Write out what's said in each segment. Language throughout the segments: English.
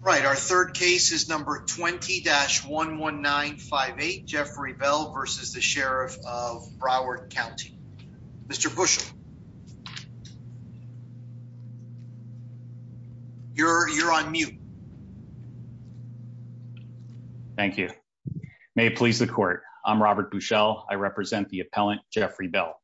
Right, our third case is number 20-11958, Jeffrey Bell v. Sheriff of Broward County. Mr. Buschel, you're on mute. Thank you. May it please the court, I'm Robert Buschel, I represent the appellant Jeffrey Bell.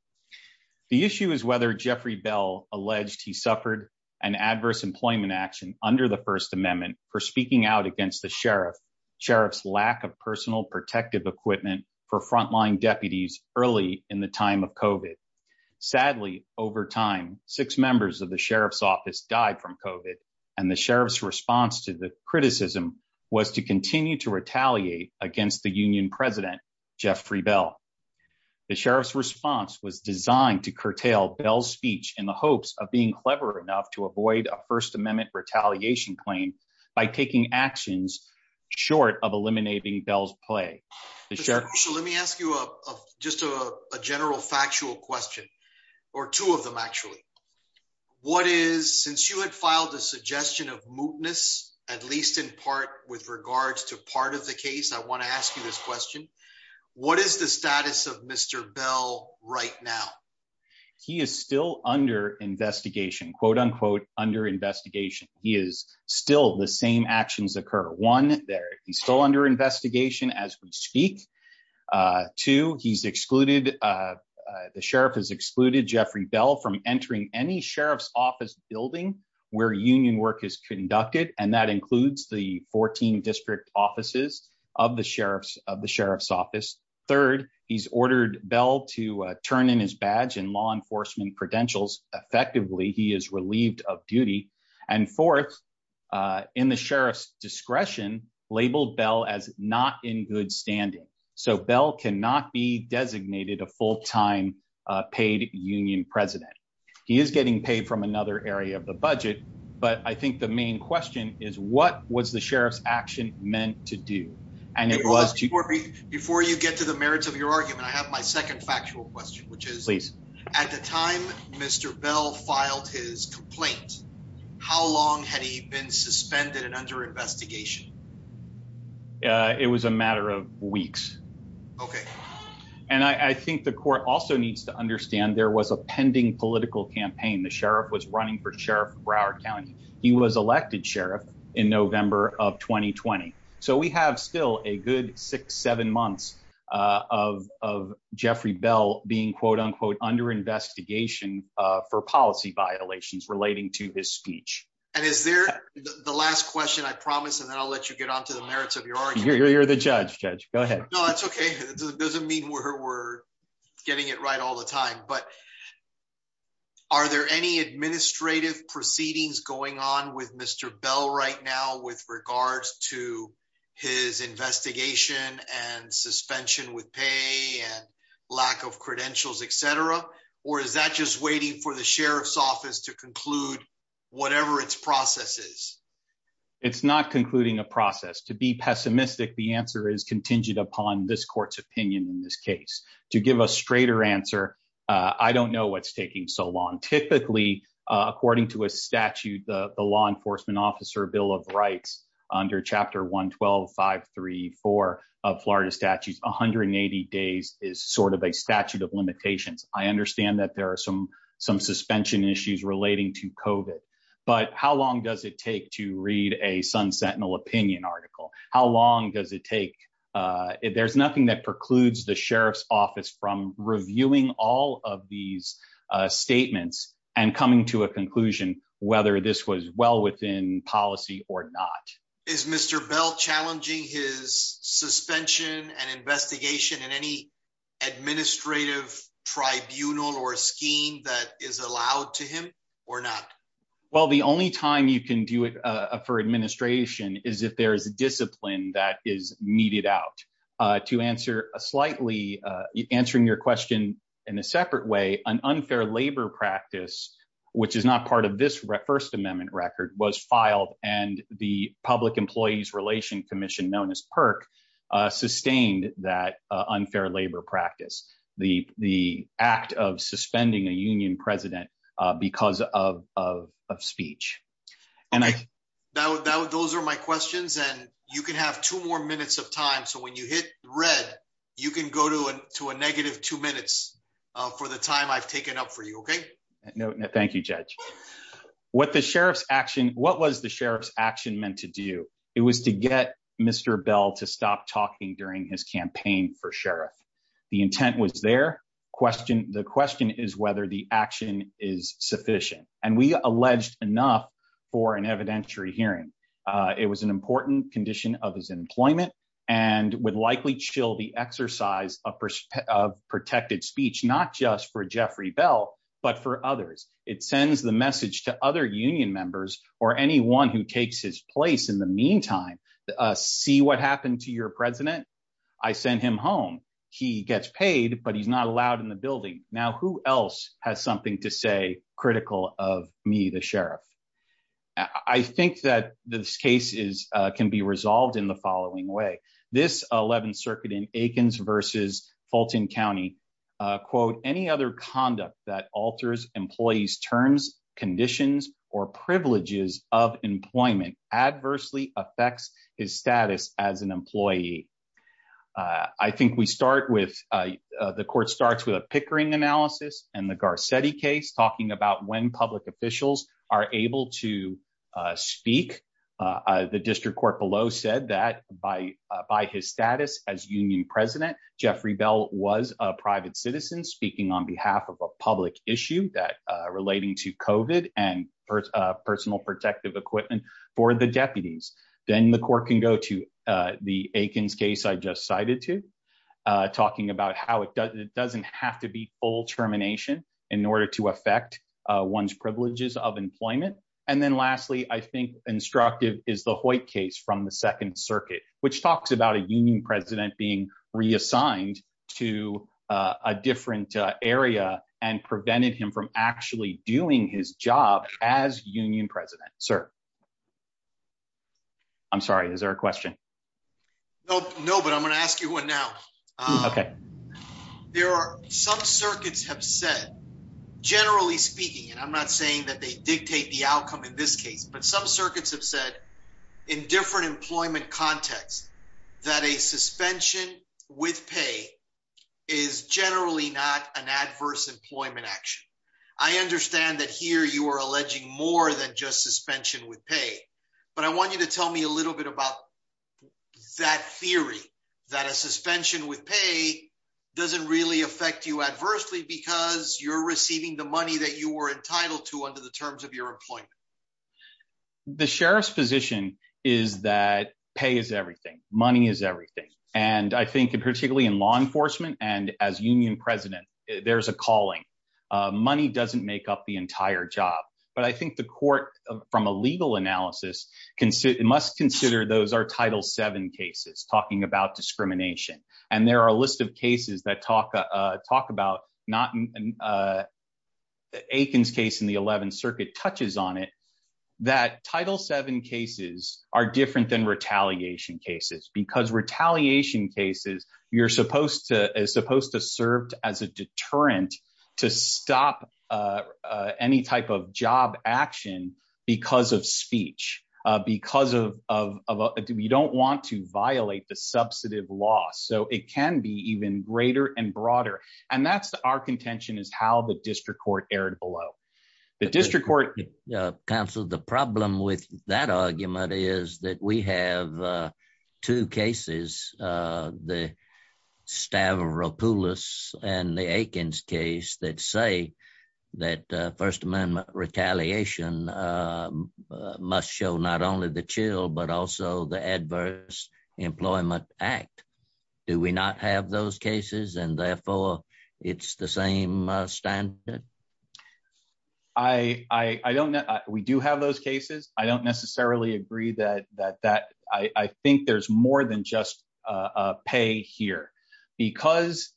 The issue is whether Jeffrey Bell alleged he suffered an adverse employment action under the First Amendment for speaking out against the sheriff, sheriff's lack of personal protective equipment for frontline deputies early in the time of COVID. Sadly, over time, six members of the sheriff's office died from COVID, and the sheriff's response to the criticism was to continue to retaliate against the union president, Jeffrey Bell. The sheriff's response was designed to curtail Bell's speech in the hopes of being retaliation claim by taking actions short of eliminating Bell's play. Let me ask you a just a general factual question, or two of them actually. What is, since you had filed a suggestion of mootness, at least in part with regards to part of the case, I want to ask you this question. What is the status of Mr. Bell right now? He is still under investigation, quote unquote, under investigation. He is still the same actions occur. One, he's still under investigation as we speak. Two, he's excluded, the sheriff has excluded Jeffrey Bell from entering any sheriff's office building where union work is conducted, and that includes the 14 district offices of the sheriff's office. Third, he's ordered Bell to turn in his badge and law enforcement credentials. Effectively, he is relieved of duty. And fourth, in the sheriff's discretion, labeled Bell as not in good standing. So Bell cannot be designated a full-time paid union president. He is getting paid from another area of the budget, but I think the main question is what was the sheriff's action meant to do? And it was, before you get to the merits of your argument, I have my second factual question, which is at the time Mr. Bell filed his complaint, how long had he been suspended and under investigation? It was a matter of weeks. Okay. And I think the court also needs to understand there was a pending political campaign. The sheriff was running for sheriff Broward County. He was elected sheriff in November of 2020. So we have still a good six, seven months of Jeffrey Bell being quote unquote under investigation for policy violations relating to his speech. And is there the last question I promise, and then I'll let you get onto the merits of your argument. You're the judge. Judge, go ahead. No, that's okay. It doesn't mean we're getting it right all the time, but are there any administrative proceedings going on with Mr. Bell right now with regards to his investigation and suspension with pay and lack of credentials, et cetera, or is that just waiting for the sheriff's office to conclude whatever its processes? It's not concluding a process to be pessimistic. The answer is contingent upon this court's opinion in this case to give a straighter answer. I don't know what's taking so long. Typically according to a statute, the law enforcement officer bill of rights under chapter one, 12, five, three, four of Florida statutes, 180 days is sort of a statute of limitations. I understand that there are some, some suspension issues relating to COVID, but how long does it there's nothing that precludes the sheriff's office from reviewing all of these statements and coming to a conclusion, whether this was well within policy or not. Is Mr. Bell challenging his suspension and investigation in any administrative tribunal or scheme that is allowed to him or not? Well, the only time you can do it for administration is if there's discipline that is meted out. To answer a slightly, answering your question in a separate way, an unfair labor practice, which is not part of this first amendment record, was filed and the public employees relation commission known as PERC sustained that unfair labor practice, the act of suspending a union president because of speech. Those are my questions and you can have two more minutes of time. So when you hit red, you can go to a, to a negative two minutes for the time I've taken up for you. Okay. No, no. Thank you. Judge what the sheriff's action, what was the sheriff's action meant to do? It was to get Mr. Bell to stop talking during his campaign for sheriff. The intent was their question. The question is whether the action is sufficient. And we alleged enough for an evidentiary hearing. It was an important condition of his employment and would likely chill the exercise of perspective of protected speech, not just for Jeffrey Bell, but for others. It sends the message to other union members or anyone who takes his place in the meantime, see what happened to your president. I sent him home. He gets paid, but he's not allowed in the building. Now, who else has something to say critical of me? The sheriff. I think that this case is, can be resolved in the following way. This 11th circuit in Aikens versus Fulton County quote, any other conduct that alters employees, terms, conditions, or privileges of employment adversely affects his status as an employee. Uh, I think we start with, uh, uh, the court starts with a Pickering analysis and the Garcetti case talking about when public officials are able to, uh, speak, uh, uh, the district court below said that by, uh, by his status as union president, Jeffrey Bell was a private citizen speaking on behalf of a public issue that, uh, relating to COVID and, uh, personal protective equipment for the deputies. Then the court can go to, uh, the Aikens case I just cited to, uh, talking about how it does, it doesn't have to be full termination in order to affect, uh, one's privileges of employment. And then lastly, I think instructive is the Hoyt case from the second circuit, which talks about a union president being reassigned to, uh, a different, uh, area and prevented him from actually doing his job as union president, sir. I'm sorry. Is there a question? Nope. No, but I'm going to ask you one now. Okay. There are some circuits have said generally speaking, and I'm not saying that they dictate the outcome in this case, but some circuits have said in different employment contexts that a suspension with pay is generally not an I understand that here you are alleging more than just suspension with pay, but I want you to tell me a little bit about that theory that a suspension with pay doesn't really affect you adversely because you're receiving the money that you were entitled to under the terms of your employment. The sheriff's position is that pay is everything. Money is everything. And I think particularly in law enforcement and as union president, there's a calling, uh, money doesn't make up the entire job, but I think the court from a legal analysis can sit and must consider those are title seven cases talking about discrimination. And there are a list of cases that talk, uh, talk about not, uh, Aiken's case in the 11th circuit touches on it, that title seven cases are different than retaliation cases because retaliation cases, you're supposed to, is supposed to serve as a deterrent to stop, uh, uh, any type of job action because of speech, uh, because of, of, of, uh, we don't want to violate the substantive law. So it can be even greater and broader. And that's our contention is how the district court erred below the district court council. The problem with that argument is that we have, uh, two cases, uh, the Stavropoulos and the Aiken's case that say that, uh, first amendment retaliation, uh, must show not only the chill, but also the adverse employment act. Do we not have those cases? And therefore it's the same standard. I, I don't know. We do have those cases. I don't necessarily agree that, that, that I think there's more than just a pay here because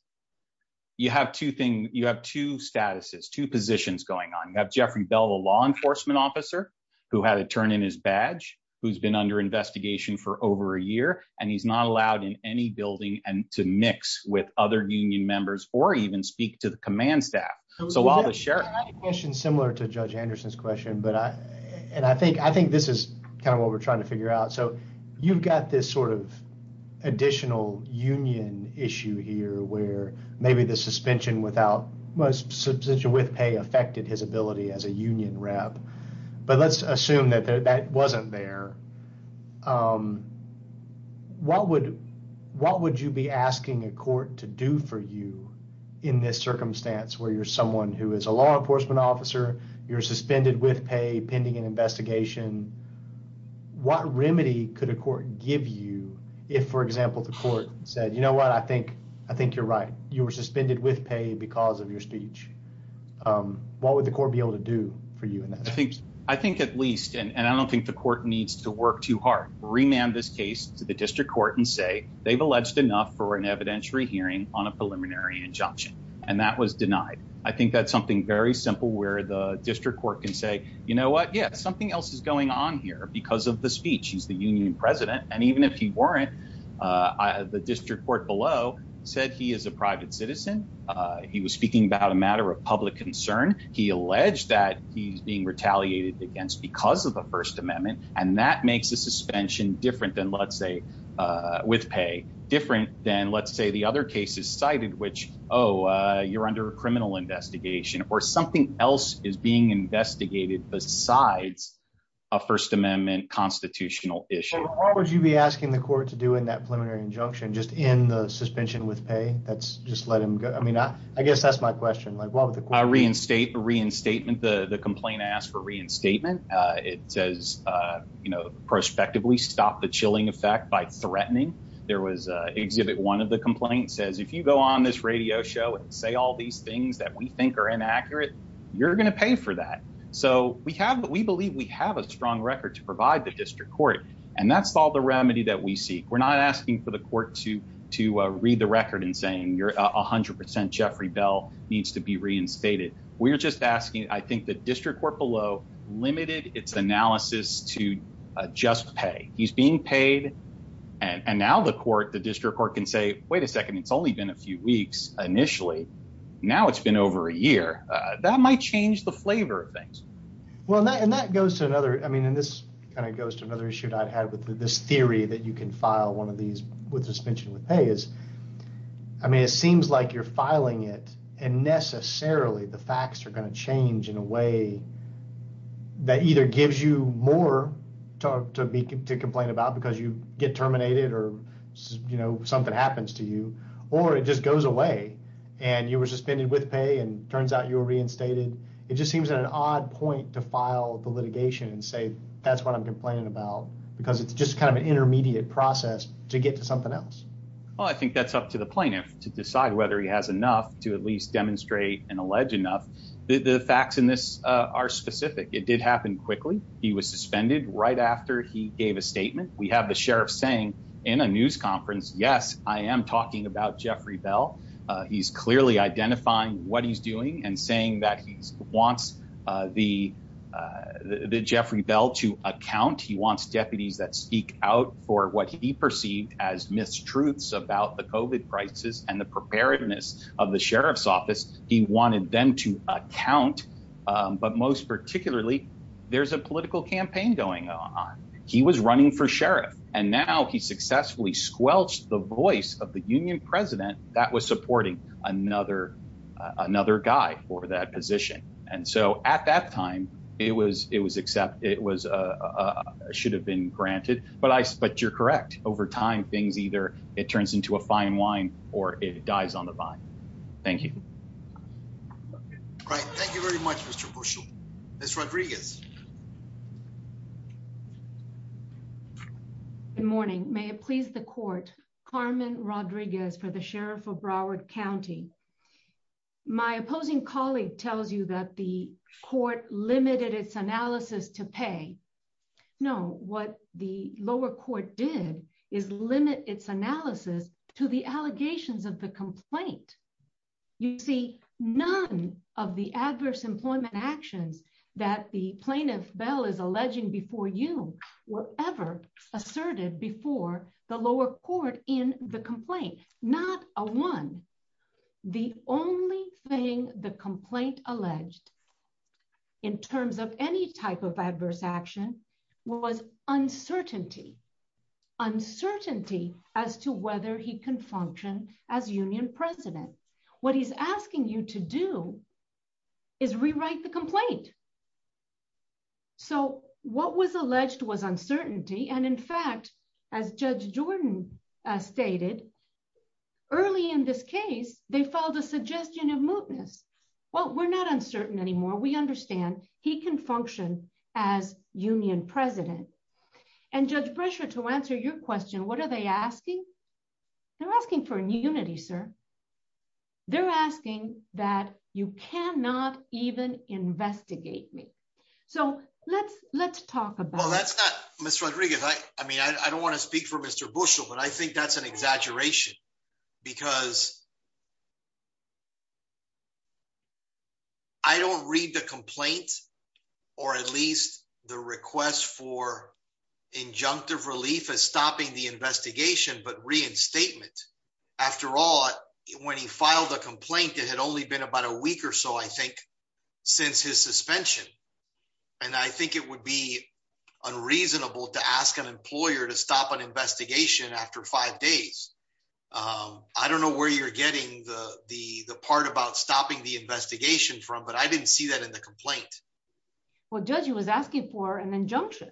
you have two things. You have two statuses, two positions going on. You have Jeffrey Bell, the law enforcement officer who had to turn in his badge, who's been under investigation for over a year, and he's not allowed in any building and to mix with other union members or even speak to the command staff. So while the sheriff similar to judge Anderson's question, but I, and I think, I think this is kind of what we're trying to figure out. So you've got this sort of additional union issue here where maybe the suspension without most substantial with pay affected his ability as a union rep, but let's assume that that wasn't there. Um, what would, what would you be asking a court to do for you in this circumstance where you're someone who is a law enforcement officer, you're suspended with pay pending an investigation. What remedy could a court give you if, for example, the court said, you know what, I think, I think you're right. You were suspended with pay because of your speech. Um, what would the court be able to do for you in that? I think, I think at least, and I don't think the court needs to work too hard, remand this case to the district court and say they've alleged enough for an evidentiary hearing on a preliminary injunction. And that was denied. I think that's something very simple where the district court can say, you know what, yeah, something else is going on here because of the speech. He's the union president. And even if he weren't, uh, the district court below said he is a private citizen. Uh, he was speaking about a matter of public concern. He alleged that he's being retaliated against because of the first amendment. And that makes a suspension different than let's say, uh, with pay different than let's say the other cases which, oh, uh, you're under a criminal investigation or something else is being investigated besides a first amendment constitutional issue. Would you be asking the court to do in that preliminary injunction, just in the suspension with pay? That's just let him go. I mean, I, I guess that's my question. Like what would the reinstate reinstatement, the, the complaint asked for reinstatement. Uh, it says, uh, you know, prospectively stop the chilling threatening. There was a exhibit. One of the complaints says, if you go on this radio show and say all these things that we think are inaccurate, you're going to pay for that. So we have, we believe we have a strong record to provide the district court. And that's all the remedy that we seek. We're not asking for the court to, to read the record and saying you're a hundred percent. Jeffrey bell needs to be reinstated. We're just asking. I think the and now the court, the district court can say, wait a second. It's only been a few weeks. Initially. Now it's been over a year. Uh, that might change the flavor of things. Well, and that goes to another, I mean, and this kind of goes to another issue that I'd had with this theory that you can file one of these with suspension with pay is, I mean, it seems like you're filing it and necessarily the facts are going to change in a way that either gives you more talk to me, to complain about because you get terminated or, you know, something happens to you, or it just goes away and you were suspended with pay and turns out you were reinstated. It just seems at an odd point to file the litigation and say, that's what I'm complaining about because it's just kind of an intermediate process to get to something else. Well, I think that's up to the plaintiff to decide whether he has enough to at least demonstrate and allege enough. The facts in this are specific. It did happen quickly. He was suspended right after he gave a statement. We have the sheriff saying in a news conference, yes, I am talking about Jeffrey bell. Uh, he's clearly identifying what he's doing and saying that he's wants, uh, the, uh, the Jeffrey bell to account. He wants deputies that speak out for what he perceived as mistruths about the COVID crisis and the preparedness of the sheriff's office. He wanted them to account. Um, but most particularly there's a political campaign going on. He was running for sheriff and now he successfully squelched the voice of the union president that was supporting another, uh, another guy for that position. And so at that time it was, it was granted, but I, but you're correct. Over time things, either it turns into a fine wine or it dies on the vine. Thank you. Right. Thank you very much, Mr. Bush. Ms. Rodriguez. Good morning. May it please the court, Carmen Rodriguez for the sheriff of Broward County. My opposing colleague tells you that the court limited its analysis to pay. No, what the lower court did is limit its analysis to the allegations of the complaint. You see none of the adverse employment actions that the plaintiff bell is alleging before you were ever asserted before the lower court in the complaint, not a one. The only thing the complaint alleged in terms of any type of adverse action was uncertainty, uncertainty as to whether he can function as union president. What he's asking you to do is rewrite the complaint. So what was alleged was uncertainty. And in fact, as judge Jordan, uh, stated early in this case, they filed a suggestion of mootness. Well, we're not uncertain anymore. We understand he can function as union president and judge pressure to answer your question. What are they asking? They're asking for a new unity, sir. They're asking that you cannot even investigate me. So let's, let's talk about, well, that's not Mr. Rodriguez. I mean, I don't want to speak for Mr. Bushel, but I think that's an exaggeration because I don't read the complaint or at least the request for injunctive relief as stopping the investigation, but reinstatement after all, when he filed a complaint, it had only been about a week or so, I think since his suspension. And I think it would be unreasonable to ask an employer to stop an investigation after five days. Um, I don't know where you're getting the, the, the part about stopping the investigation from, but I didn't see that in the complaint. Well, judge, he was asking for an injunction,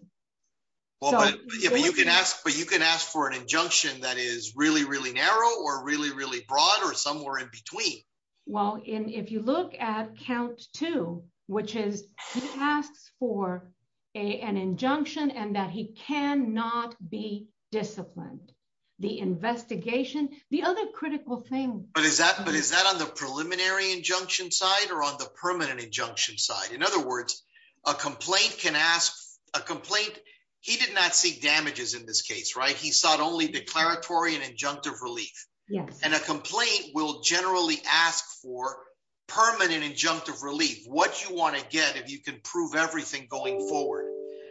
but you can ask, but you can ask for an injunction that is really, really narrow or really, really broad or somewhere in between. Well, in, if you look at count two, which is he asks for a, an injunction and that he cannot be disciplined the investigation, the other critical thing, but is that, but is that on preliminary injunction side or on the permanent injunction side? In other words, a complaint can ask a complaint. He did not seek damages in this case, right? He sought only declaratory and injunctive relief. And a complaint will generally ask for permanent injunctive relief. What you want to get, if you can prove everything going forward.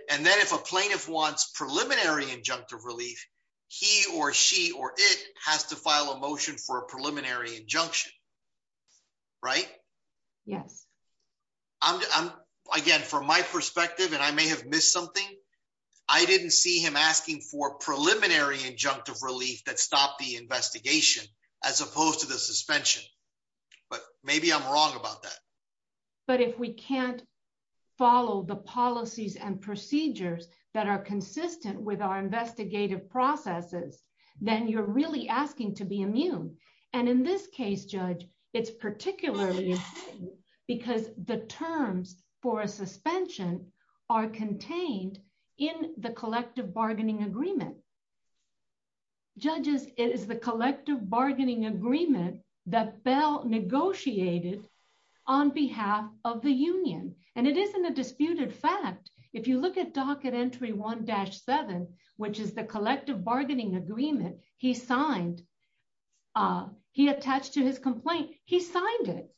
And then if a plaintiff wants preliminary injunctive relief, he or she, or it has to file a motion for a preliminary injunction, right? Yes. I'm I'm again, from my perspective, and I may have missed something. I didn't see him asking for preliminary injunctive relief that stopped the investigation as opposed to the suspension, but maybe I'm wrong about that. But if we can't follow the policies and procedures that are consistent with our investigative processes, then you're really asking to be immune. And in this case, judge, it's particularly because the terms for a suspension are contained in the collective bargaining agreement. Judges, it is the collective bargaining agreement that Bell negotiated on behalf of the union. And it isn't a disputed fact. If you look at Docket Entry 1-7, which is the collective bargaining agreement he signed, he attached to his complaint, he signed it.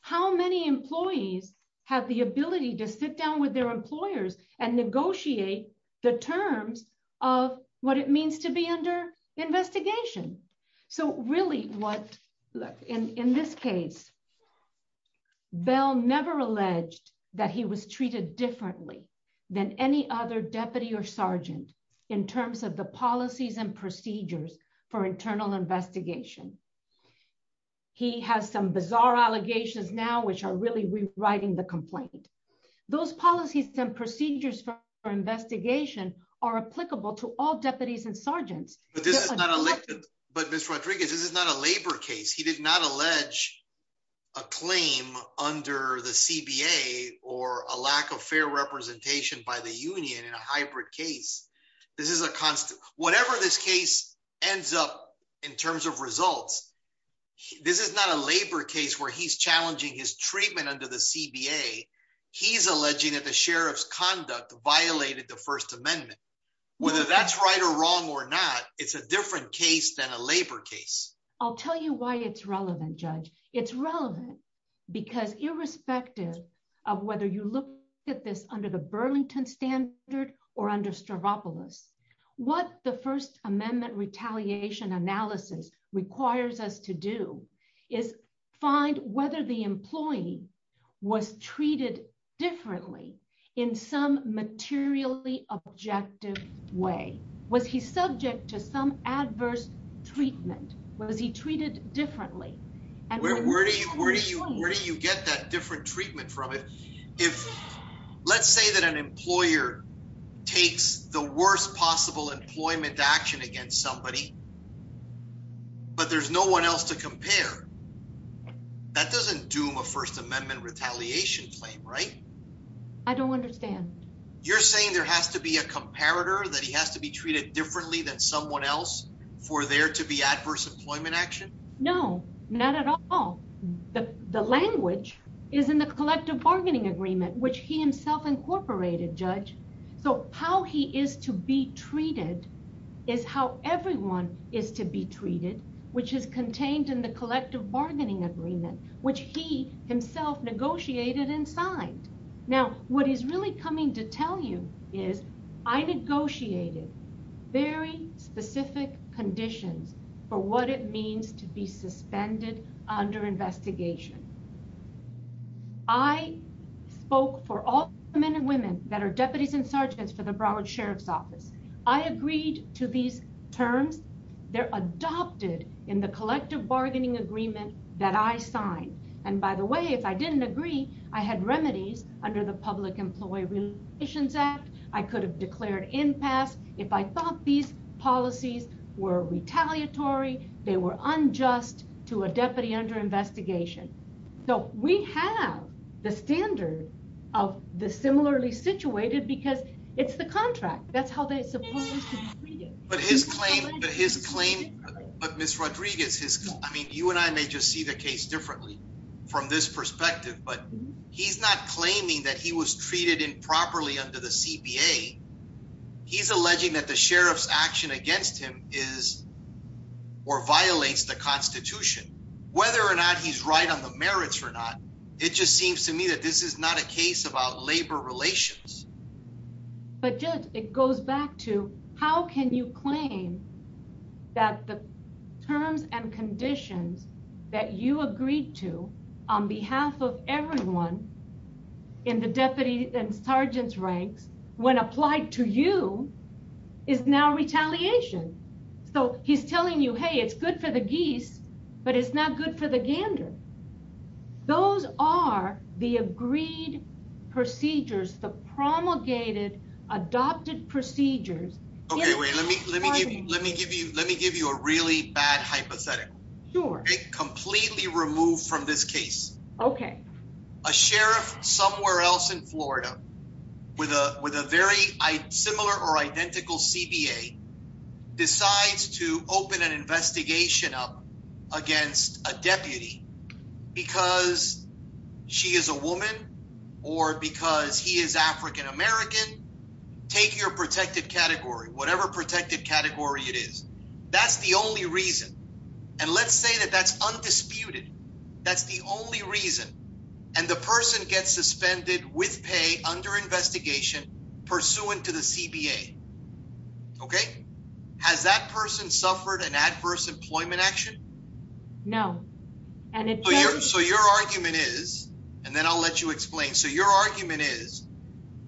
How many employees have the ability to sit down with their employers and negotiate the terms of what it means to be under investigation? So really what, in this case, Bell never alleged that he was treated differently than any other deputy or sergeant in terms of the policies and procedures for internal investigation. He has some bizarre allegations now, which are really rewriting the complaint. Those policies and procedures for investigation are applicable to all deputies and sergeants. But this is not a labor case. He did not allege a claim under the CBA or a lack of fair representation by the union in a hybrid case. This is a constant. Whatever this case ends up in terms of results, this is not a labor case where he's challenging his treatment under the CBA. He's alleging that the sheriff's conduct violated the First Amendment. Whether that's right or wrong or not, it's a different case than a labor case. I'll tell you why it's relevant, Judge. It's relevant because irrespective of whether you look at this under the Burlington standard or under Stravopolis, what the First Amendment retaliation analysis requires us to do is find whether the employee was treated differently in some materially objective way. Was he subject to some adverse treatment? Was he treated differently? Where do you get that different treatment from? Let's say that an employer takes the worst possible employment action against somebody, but there's no one else to compare. That doesn't doom a First Amendment retaliation claim, right? I don't understand. You're saying there has to be a comparator, that he has to be treated differently than someone else for there to be adverse employment action? No, not at all. The language is in the collective bargaining agreement, which he himself incorporated, Judge. How he is to be treated is how everyone is to be treated, which is contained in the collective bargaining agreement, which he himself negotiated and signed. Now, what he's really coming to tell you is, I negotiated very specific conditions for what it means to be suspended under investigation. I spoke for all men and women that are deputies and sergeants for the Broward Sheriff's Office. I agreed to these terms. They're adopted in the collective bargaining agreement that I signed. And by the way, if I didn't agree, I had remedies under the Public Employee Relations Act. I could have declared impasse if I thought these policies were under investigation. So we have the standard of the similarly situated because it's the contract, that's how they're supposed to be treated. But his claim, but Ms. Rodriguez, I mean, you and I may just see the case differently from this perspective, but he's not claiming that he was treated improperly under the CPA. He's alleging that the sheriff's action against him is or whether or not he's right on the merits or not. It just seems to me that this is not a case about labor relations. But Judge, it goes back to how can you claim that the terms and conditions that you agreed to on behalf of everyone in the deputy and sergeants ranks when applied to you is now retaliation. So he's telling you, hey, it's good for the geese, but it's not good for the gander. Those are the agreed procedures, the promulgated, adopted procedures. Okay, wait, let me give you a really bad hypothetical. Sure. Completely removed from this case. Okay. A sheriff somewhere else in Florida with a very similar or identical CBA decides to open an investigation up against a deputy because she is a woman or because he is African American. Take your protected category, whatever protected category it is. That's the only reason. And let's say that that's undisputed. That's the only reason. And the person gets suspended with pay under investigation pursuant to the CBA. Okay. Has that person suffered an adverse employment action? No. So your argument is, and then I'll let you explain. So your argument is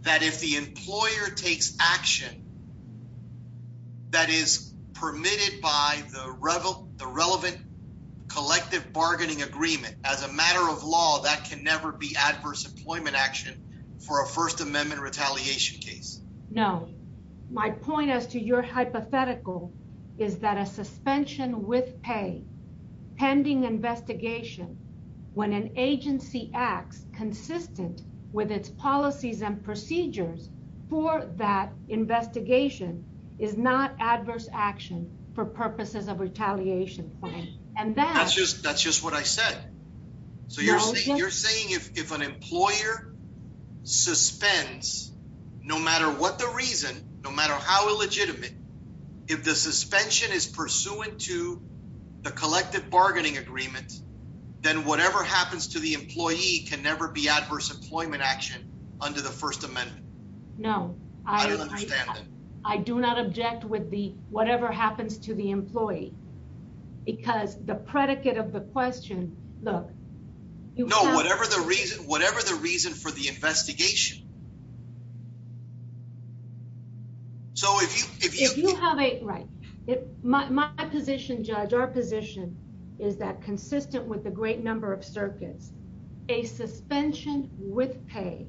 that if the employer takes action that is permitted by the relevant collective bargaining agreement as a matter of law, that can never be adverse employment action for a first amendment retaliation case. No. My point as to your hypothetical is that a suspension with pay pending investigation when an agency acts consistent with its policies and procedures for that investigation is not adverse action for purposes of retaliation. And that's just, that's just what I said. So you're saying you're saying if an employer suspends, no matter what the reason, no matter how illegitimate, if the suspension is pursuant to the collective bargaining agreement, then whatever happens to the employee can never be adverse employment action under the first amendment. No, I don't understand that. I do not object with the, whatever happens to the employee because the predicate of the question, look, you know, whatever the reason, whatever the reason for the investigation. So if you, if you, if you have a right, my position judge, our position is that consistent with the great number of circuits, a suspension with pay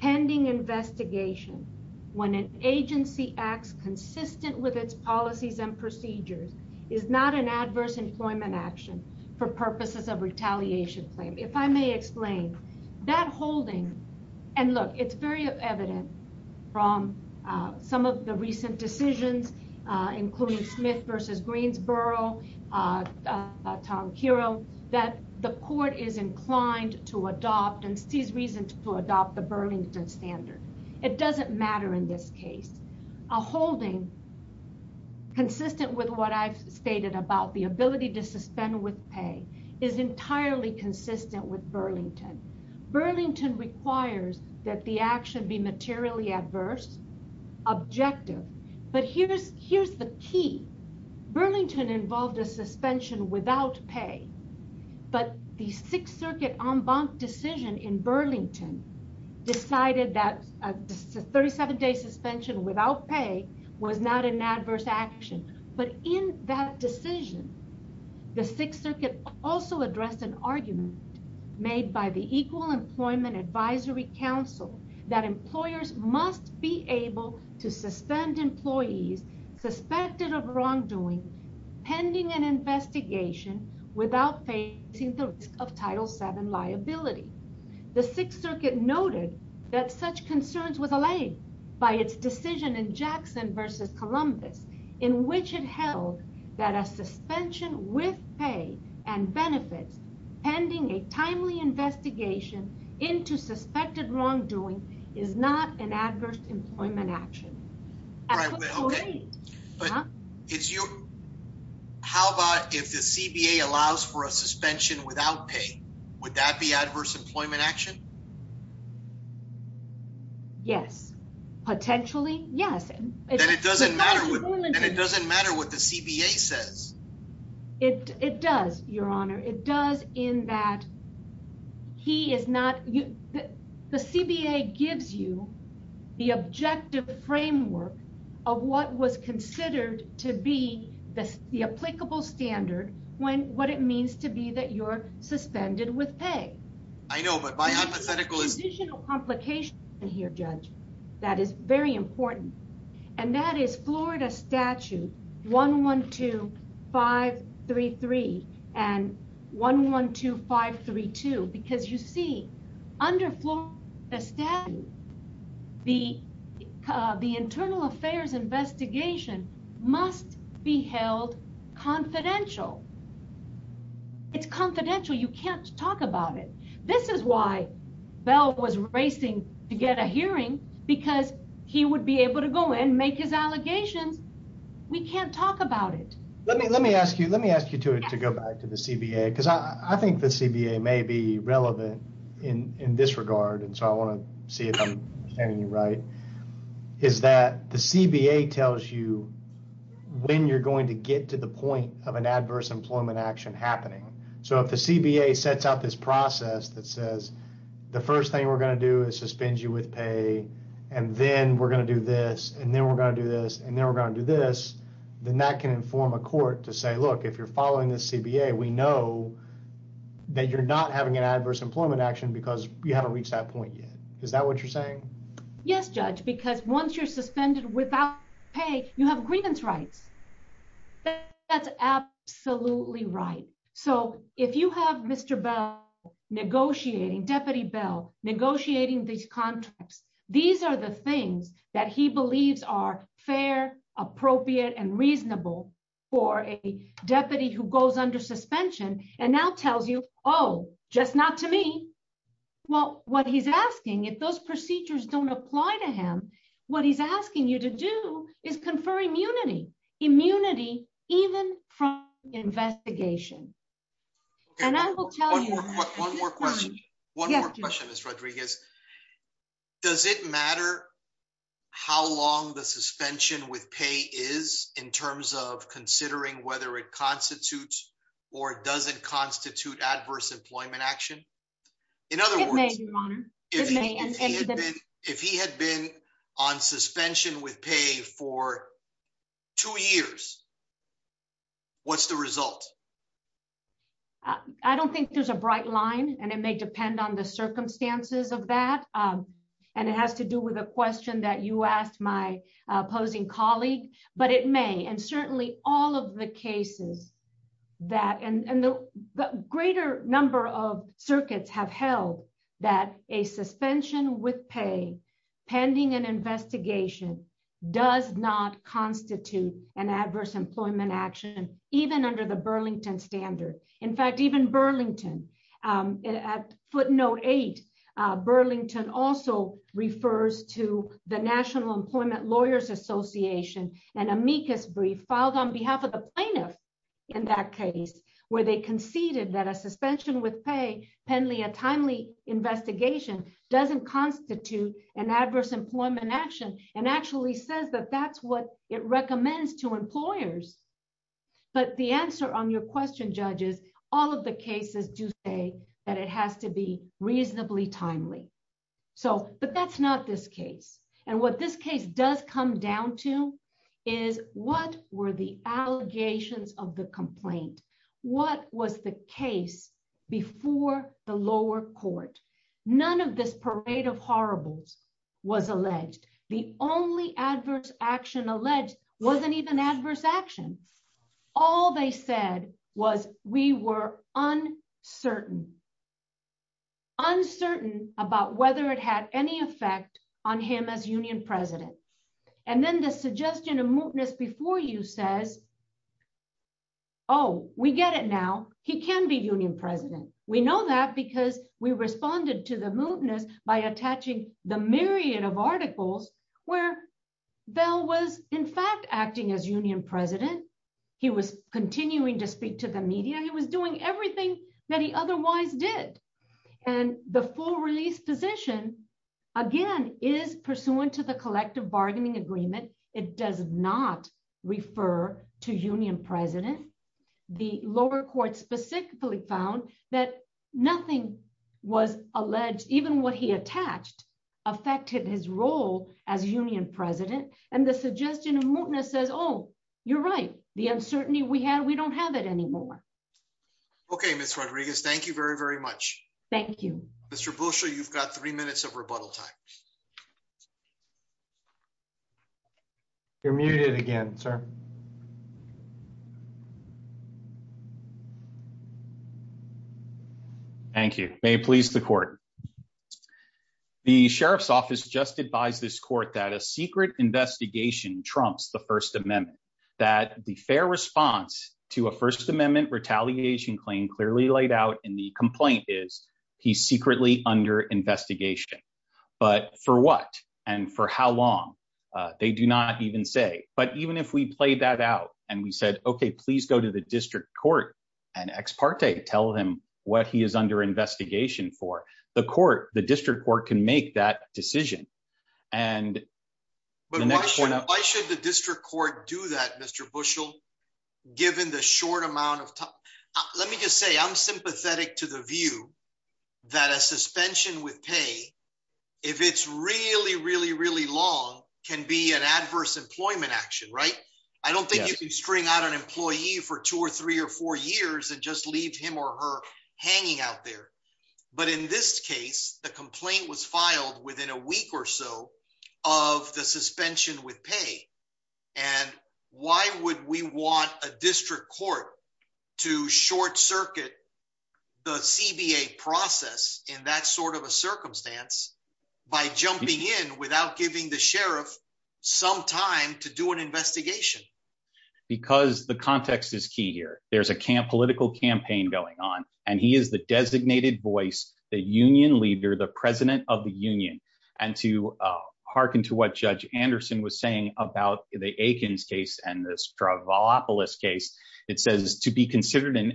pending investigation when an agency acts consistent with its policies and procedures is not an adverse employment action for purposes of retaliation claim. If I may explain that holding and look, it's very evident from some of the recent decisions including Smith versus Greensboro, Tom Kiro, that the court is inclined to adopt and sees reasons to adopt the Burlington standard. It doesn't matter in this case, a holding consistent with what I've stated about the ability to suspend with pay is entirely consistent with Burlington. Burlington requires that the suspension without pay, but the sixth circuit en banc decision in Burlington decided that a 37 day suspension without pay was not an adverse action. But in that decision, the sixth circuit also addressed an argument made by the Equal Employment Advisory Council that employers must be able to an investigation without facing the risk of title seven liability. The sixth circuit noted that such concerns was allayed by its decision in Jackson versus Columbus in which it held that a suspension with pay and benefits pending a timely investigation into suspected wrongdoing is not an adverse employment action. How about if the CBA allows for a suspension without pay, would that be adverse employment action? Yes. Potentially, yes. And it doesn't matter what the CBA says. It does, Your Honor. It does in that the CBA gives you the objective framework of what was considered to be the applicable standard when what it means to be that you're suspended with pay. I know, but my hypothetical is... There's an additional complication here, Judge, that is very important. And that is Florida statute 112533 and 112532. Because you see, under Florida statute, the internal affairs investigation must be held confidential. It's confidential. You can't talk about it. This is why we can't talk about it. Let me ask you to go back to the CBA, because I think the CBA may be relevant in this regard. And so I want to see if I'm getting you right, is that the CBA tells you when you're going to get to the point of an adverse employment action happening. So if the CBA sets out this process that says, the first thing we're going to do is suspend you with pay, and then we're going to do this, and then we're going to do this, and then we're going to do this, then that can inform a court to say, look, if you're following the CBA, we know that you're not having an adverse employment action because you haven't reached that point yet. Is that what you're saying? Yes, Judge, because once you're suspended without pay, you have grievance rights. That's absolutely right. So if you have Mr. Bell negotiating, Deputy Bell negotiating these contracts, these are the things that he believes are fair, appropriate, and reasonable for a deputy who goes under suspension and now tells you, oh, just not to me. Well, what he's asking, if those procedures don't apply to him, what he's asking you to do is confer immunity, immunity, even from investigation. And I will tell you... One more question. One more question, Ms. Rodriguez. Does it matter how long the suspension with pay is in terms of considering whether it constitutes or doesn't constitute adverse employment action? In other words, if he had been on suspension with pay for two years, what's the result? I don't think there's a bright line, and it may depend on the circumstances of that. And it has to do with a question that you asked my opposing colleague, but it may. And certainly all of the cases that... And the greater number of circuits have held that a suspension with pay pending an investigation does not constitute an adverse employment action, even under the Burlington standard. In fact, even Burlington, at footnote eight, Burlington also refers to the National Employment Lawyers Association, an amicus brief filed on behalf of the plaintiff in that case, where they conceded that a suspension with pay, pending a timely investigation, doesn't constitute an adverse employment action, and actually says that that's what it recommends to employers. But the answer on your question, judges, all of the cases do say that it has to be reasonably timely. But that's not this case. And what this case does come down to is what were the allegations of the complaint? What was the lower court? None of this parade of horribles was alleged. The only adverse action alleged wasn't even adverse action. All they said was we were uncertain, uncertain about whether it had any effect on him as union president. And then the suggestion of mootness before you says, oh, we get it now. He can be union president. We know that because we responded to the mootness by attaching the myriad of articles where Bell was, in fact, acting as union president. He was continuing to speak to the media. He was doing everything that he otherwise did. And the full release position, again, is pursuant to the collective bargaining agreement. It does not refer to union president. The lower court specifically found that nothing was alleged, even what he attached, affected his role as union president. And the suggestion of mootness says, oh, you're right, the uncertainty we had, we don't have it anymore. Okay, Miss Rodriguez, thank you very, very much. Thank you. Mr. Bushel, you've got three minutes of rebuttal time. You're muted again, sir. Thank you. May it please the court. The sheriff's office just advised this court that a secret investigation trumps the First Amendment, that the fair response to a First Amendment retaliation claim clearly laid out in the complaint is he's secretly under investigation. But for what? And for how long? They do not even say. But even if we played that out, and we said, okay, please go to the district court and ex parte, tell him what he is under investigation for the court, the district court can make that decision. And why should the district court do that, Mr. Bushel, given the short amount of time? Let me just say I'm sympathetic to the if it's really, really, really long, can be an adverse employment action, right? I don't think you can string out an employee for two or three or four years and just leave him or her hanging out there. But in this case, the complaint was filed within a week or so of the suspension with pay. And why would we want a district court to short circuit the CBA process in that sort of circumstance, by jumping in without giving the sheriff some time to do an investigation? Because the context is key here. There's a camp political campaign going on. And he is the designated voice, the union leader, the president of the union. And to harken to what Judge Anderson was saying about the Aikens case and the Stravopolis case, it says to be considered an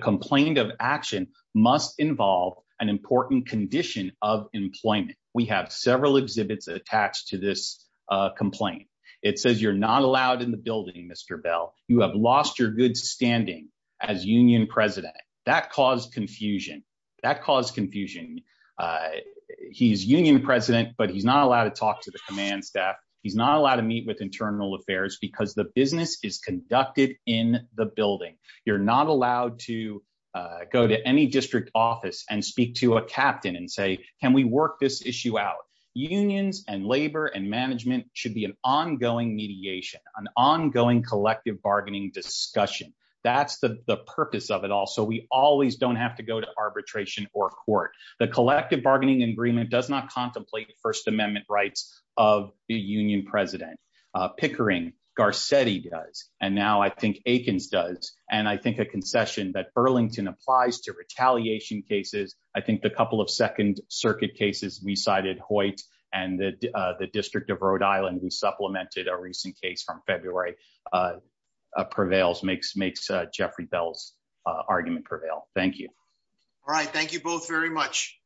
complaint of action must involve an important condition of employment. We have several exhibits attached to this complaint. It says you're not allowed in the building, Mr. Bell, you have lost your good standing as union president that caused confusion that caused confusion. He's union president, but he's not allowed to talk to the command staff. He's not allowed to meet with go to any district office and speak to a captain and say, can we work this issue out? Unions and labor and management should be an ongoing mediation, an ongoing collective bargaining discussion. That's the purpose of it all. So we always don't have to go to arbitration or court. The collective bargaining agreement does not contemplate First Amendment rights of the union president. Pickering, Garcetti does. And now I think Aikens does. And I think a concession that Burlington applies to retaliation cases. I think the couple of Second Circuit cases we cited Hoyt and the District of Rhode Island, who supplemented a recent case from February prevails, makes Jeffrey Bell's argument prevail. Thank you. All right. Thank you both very much.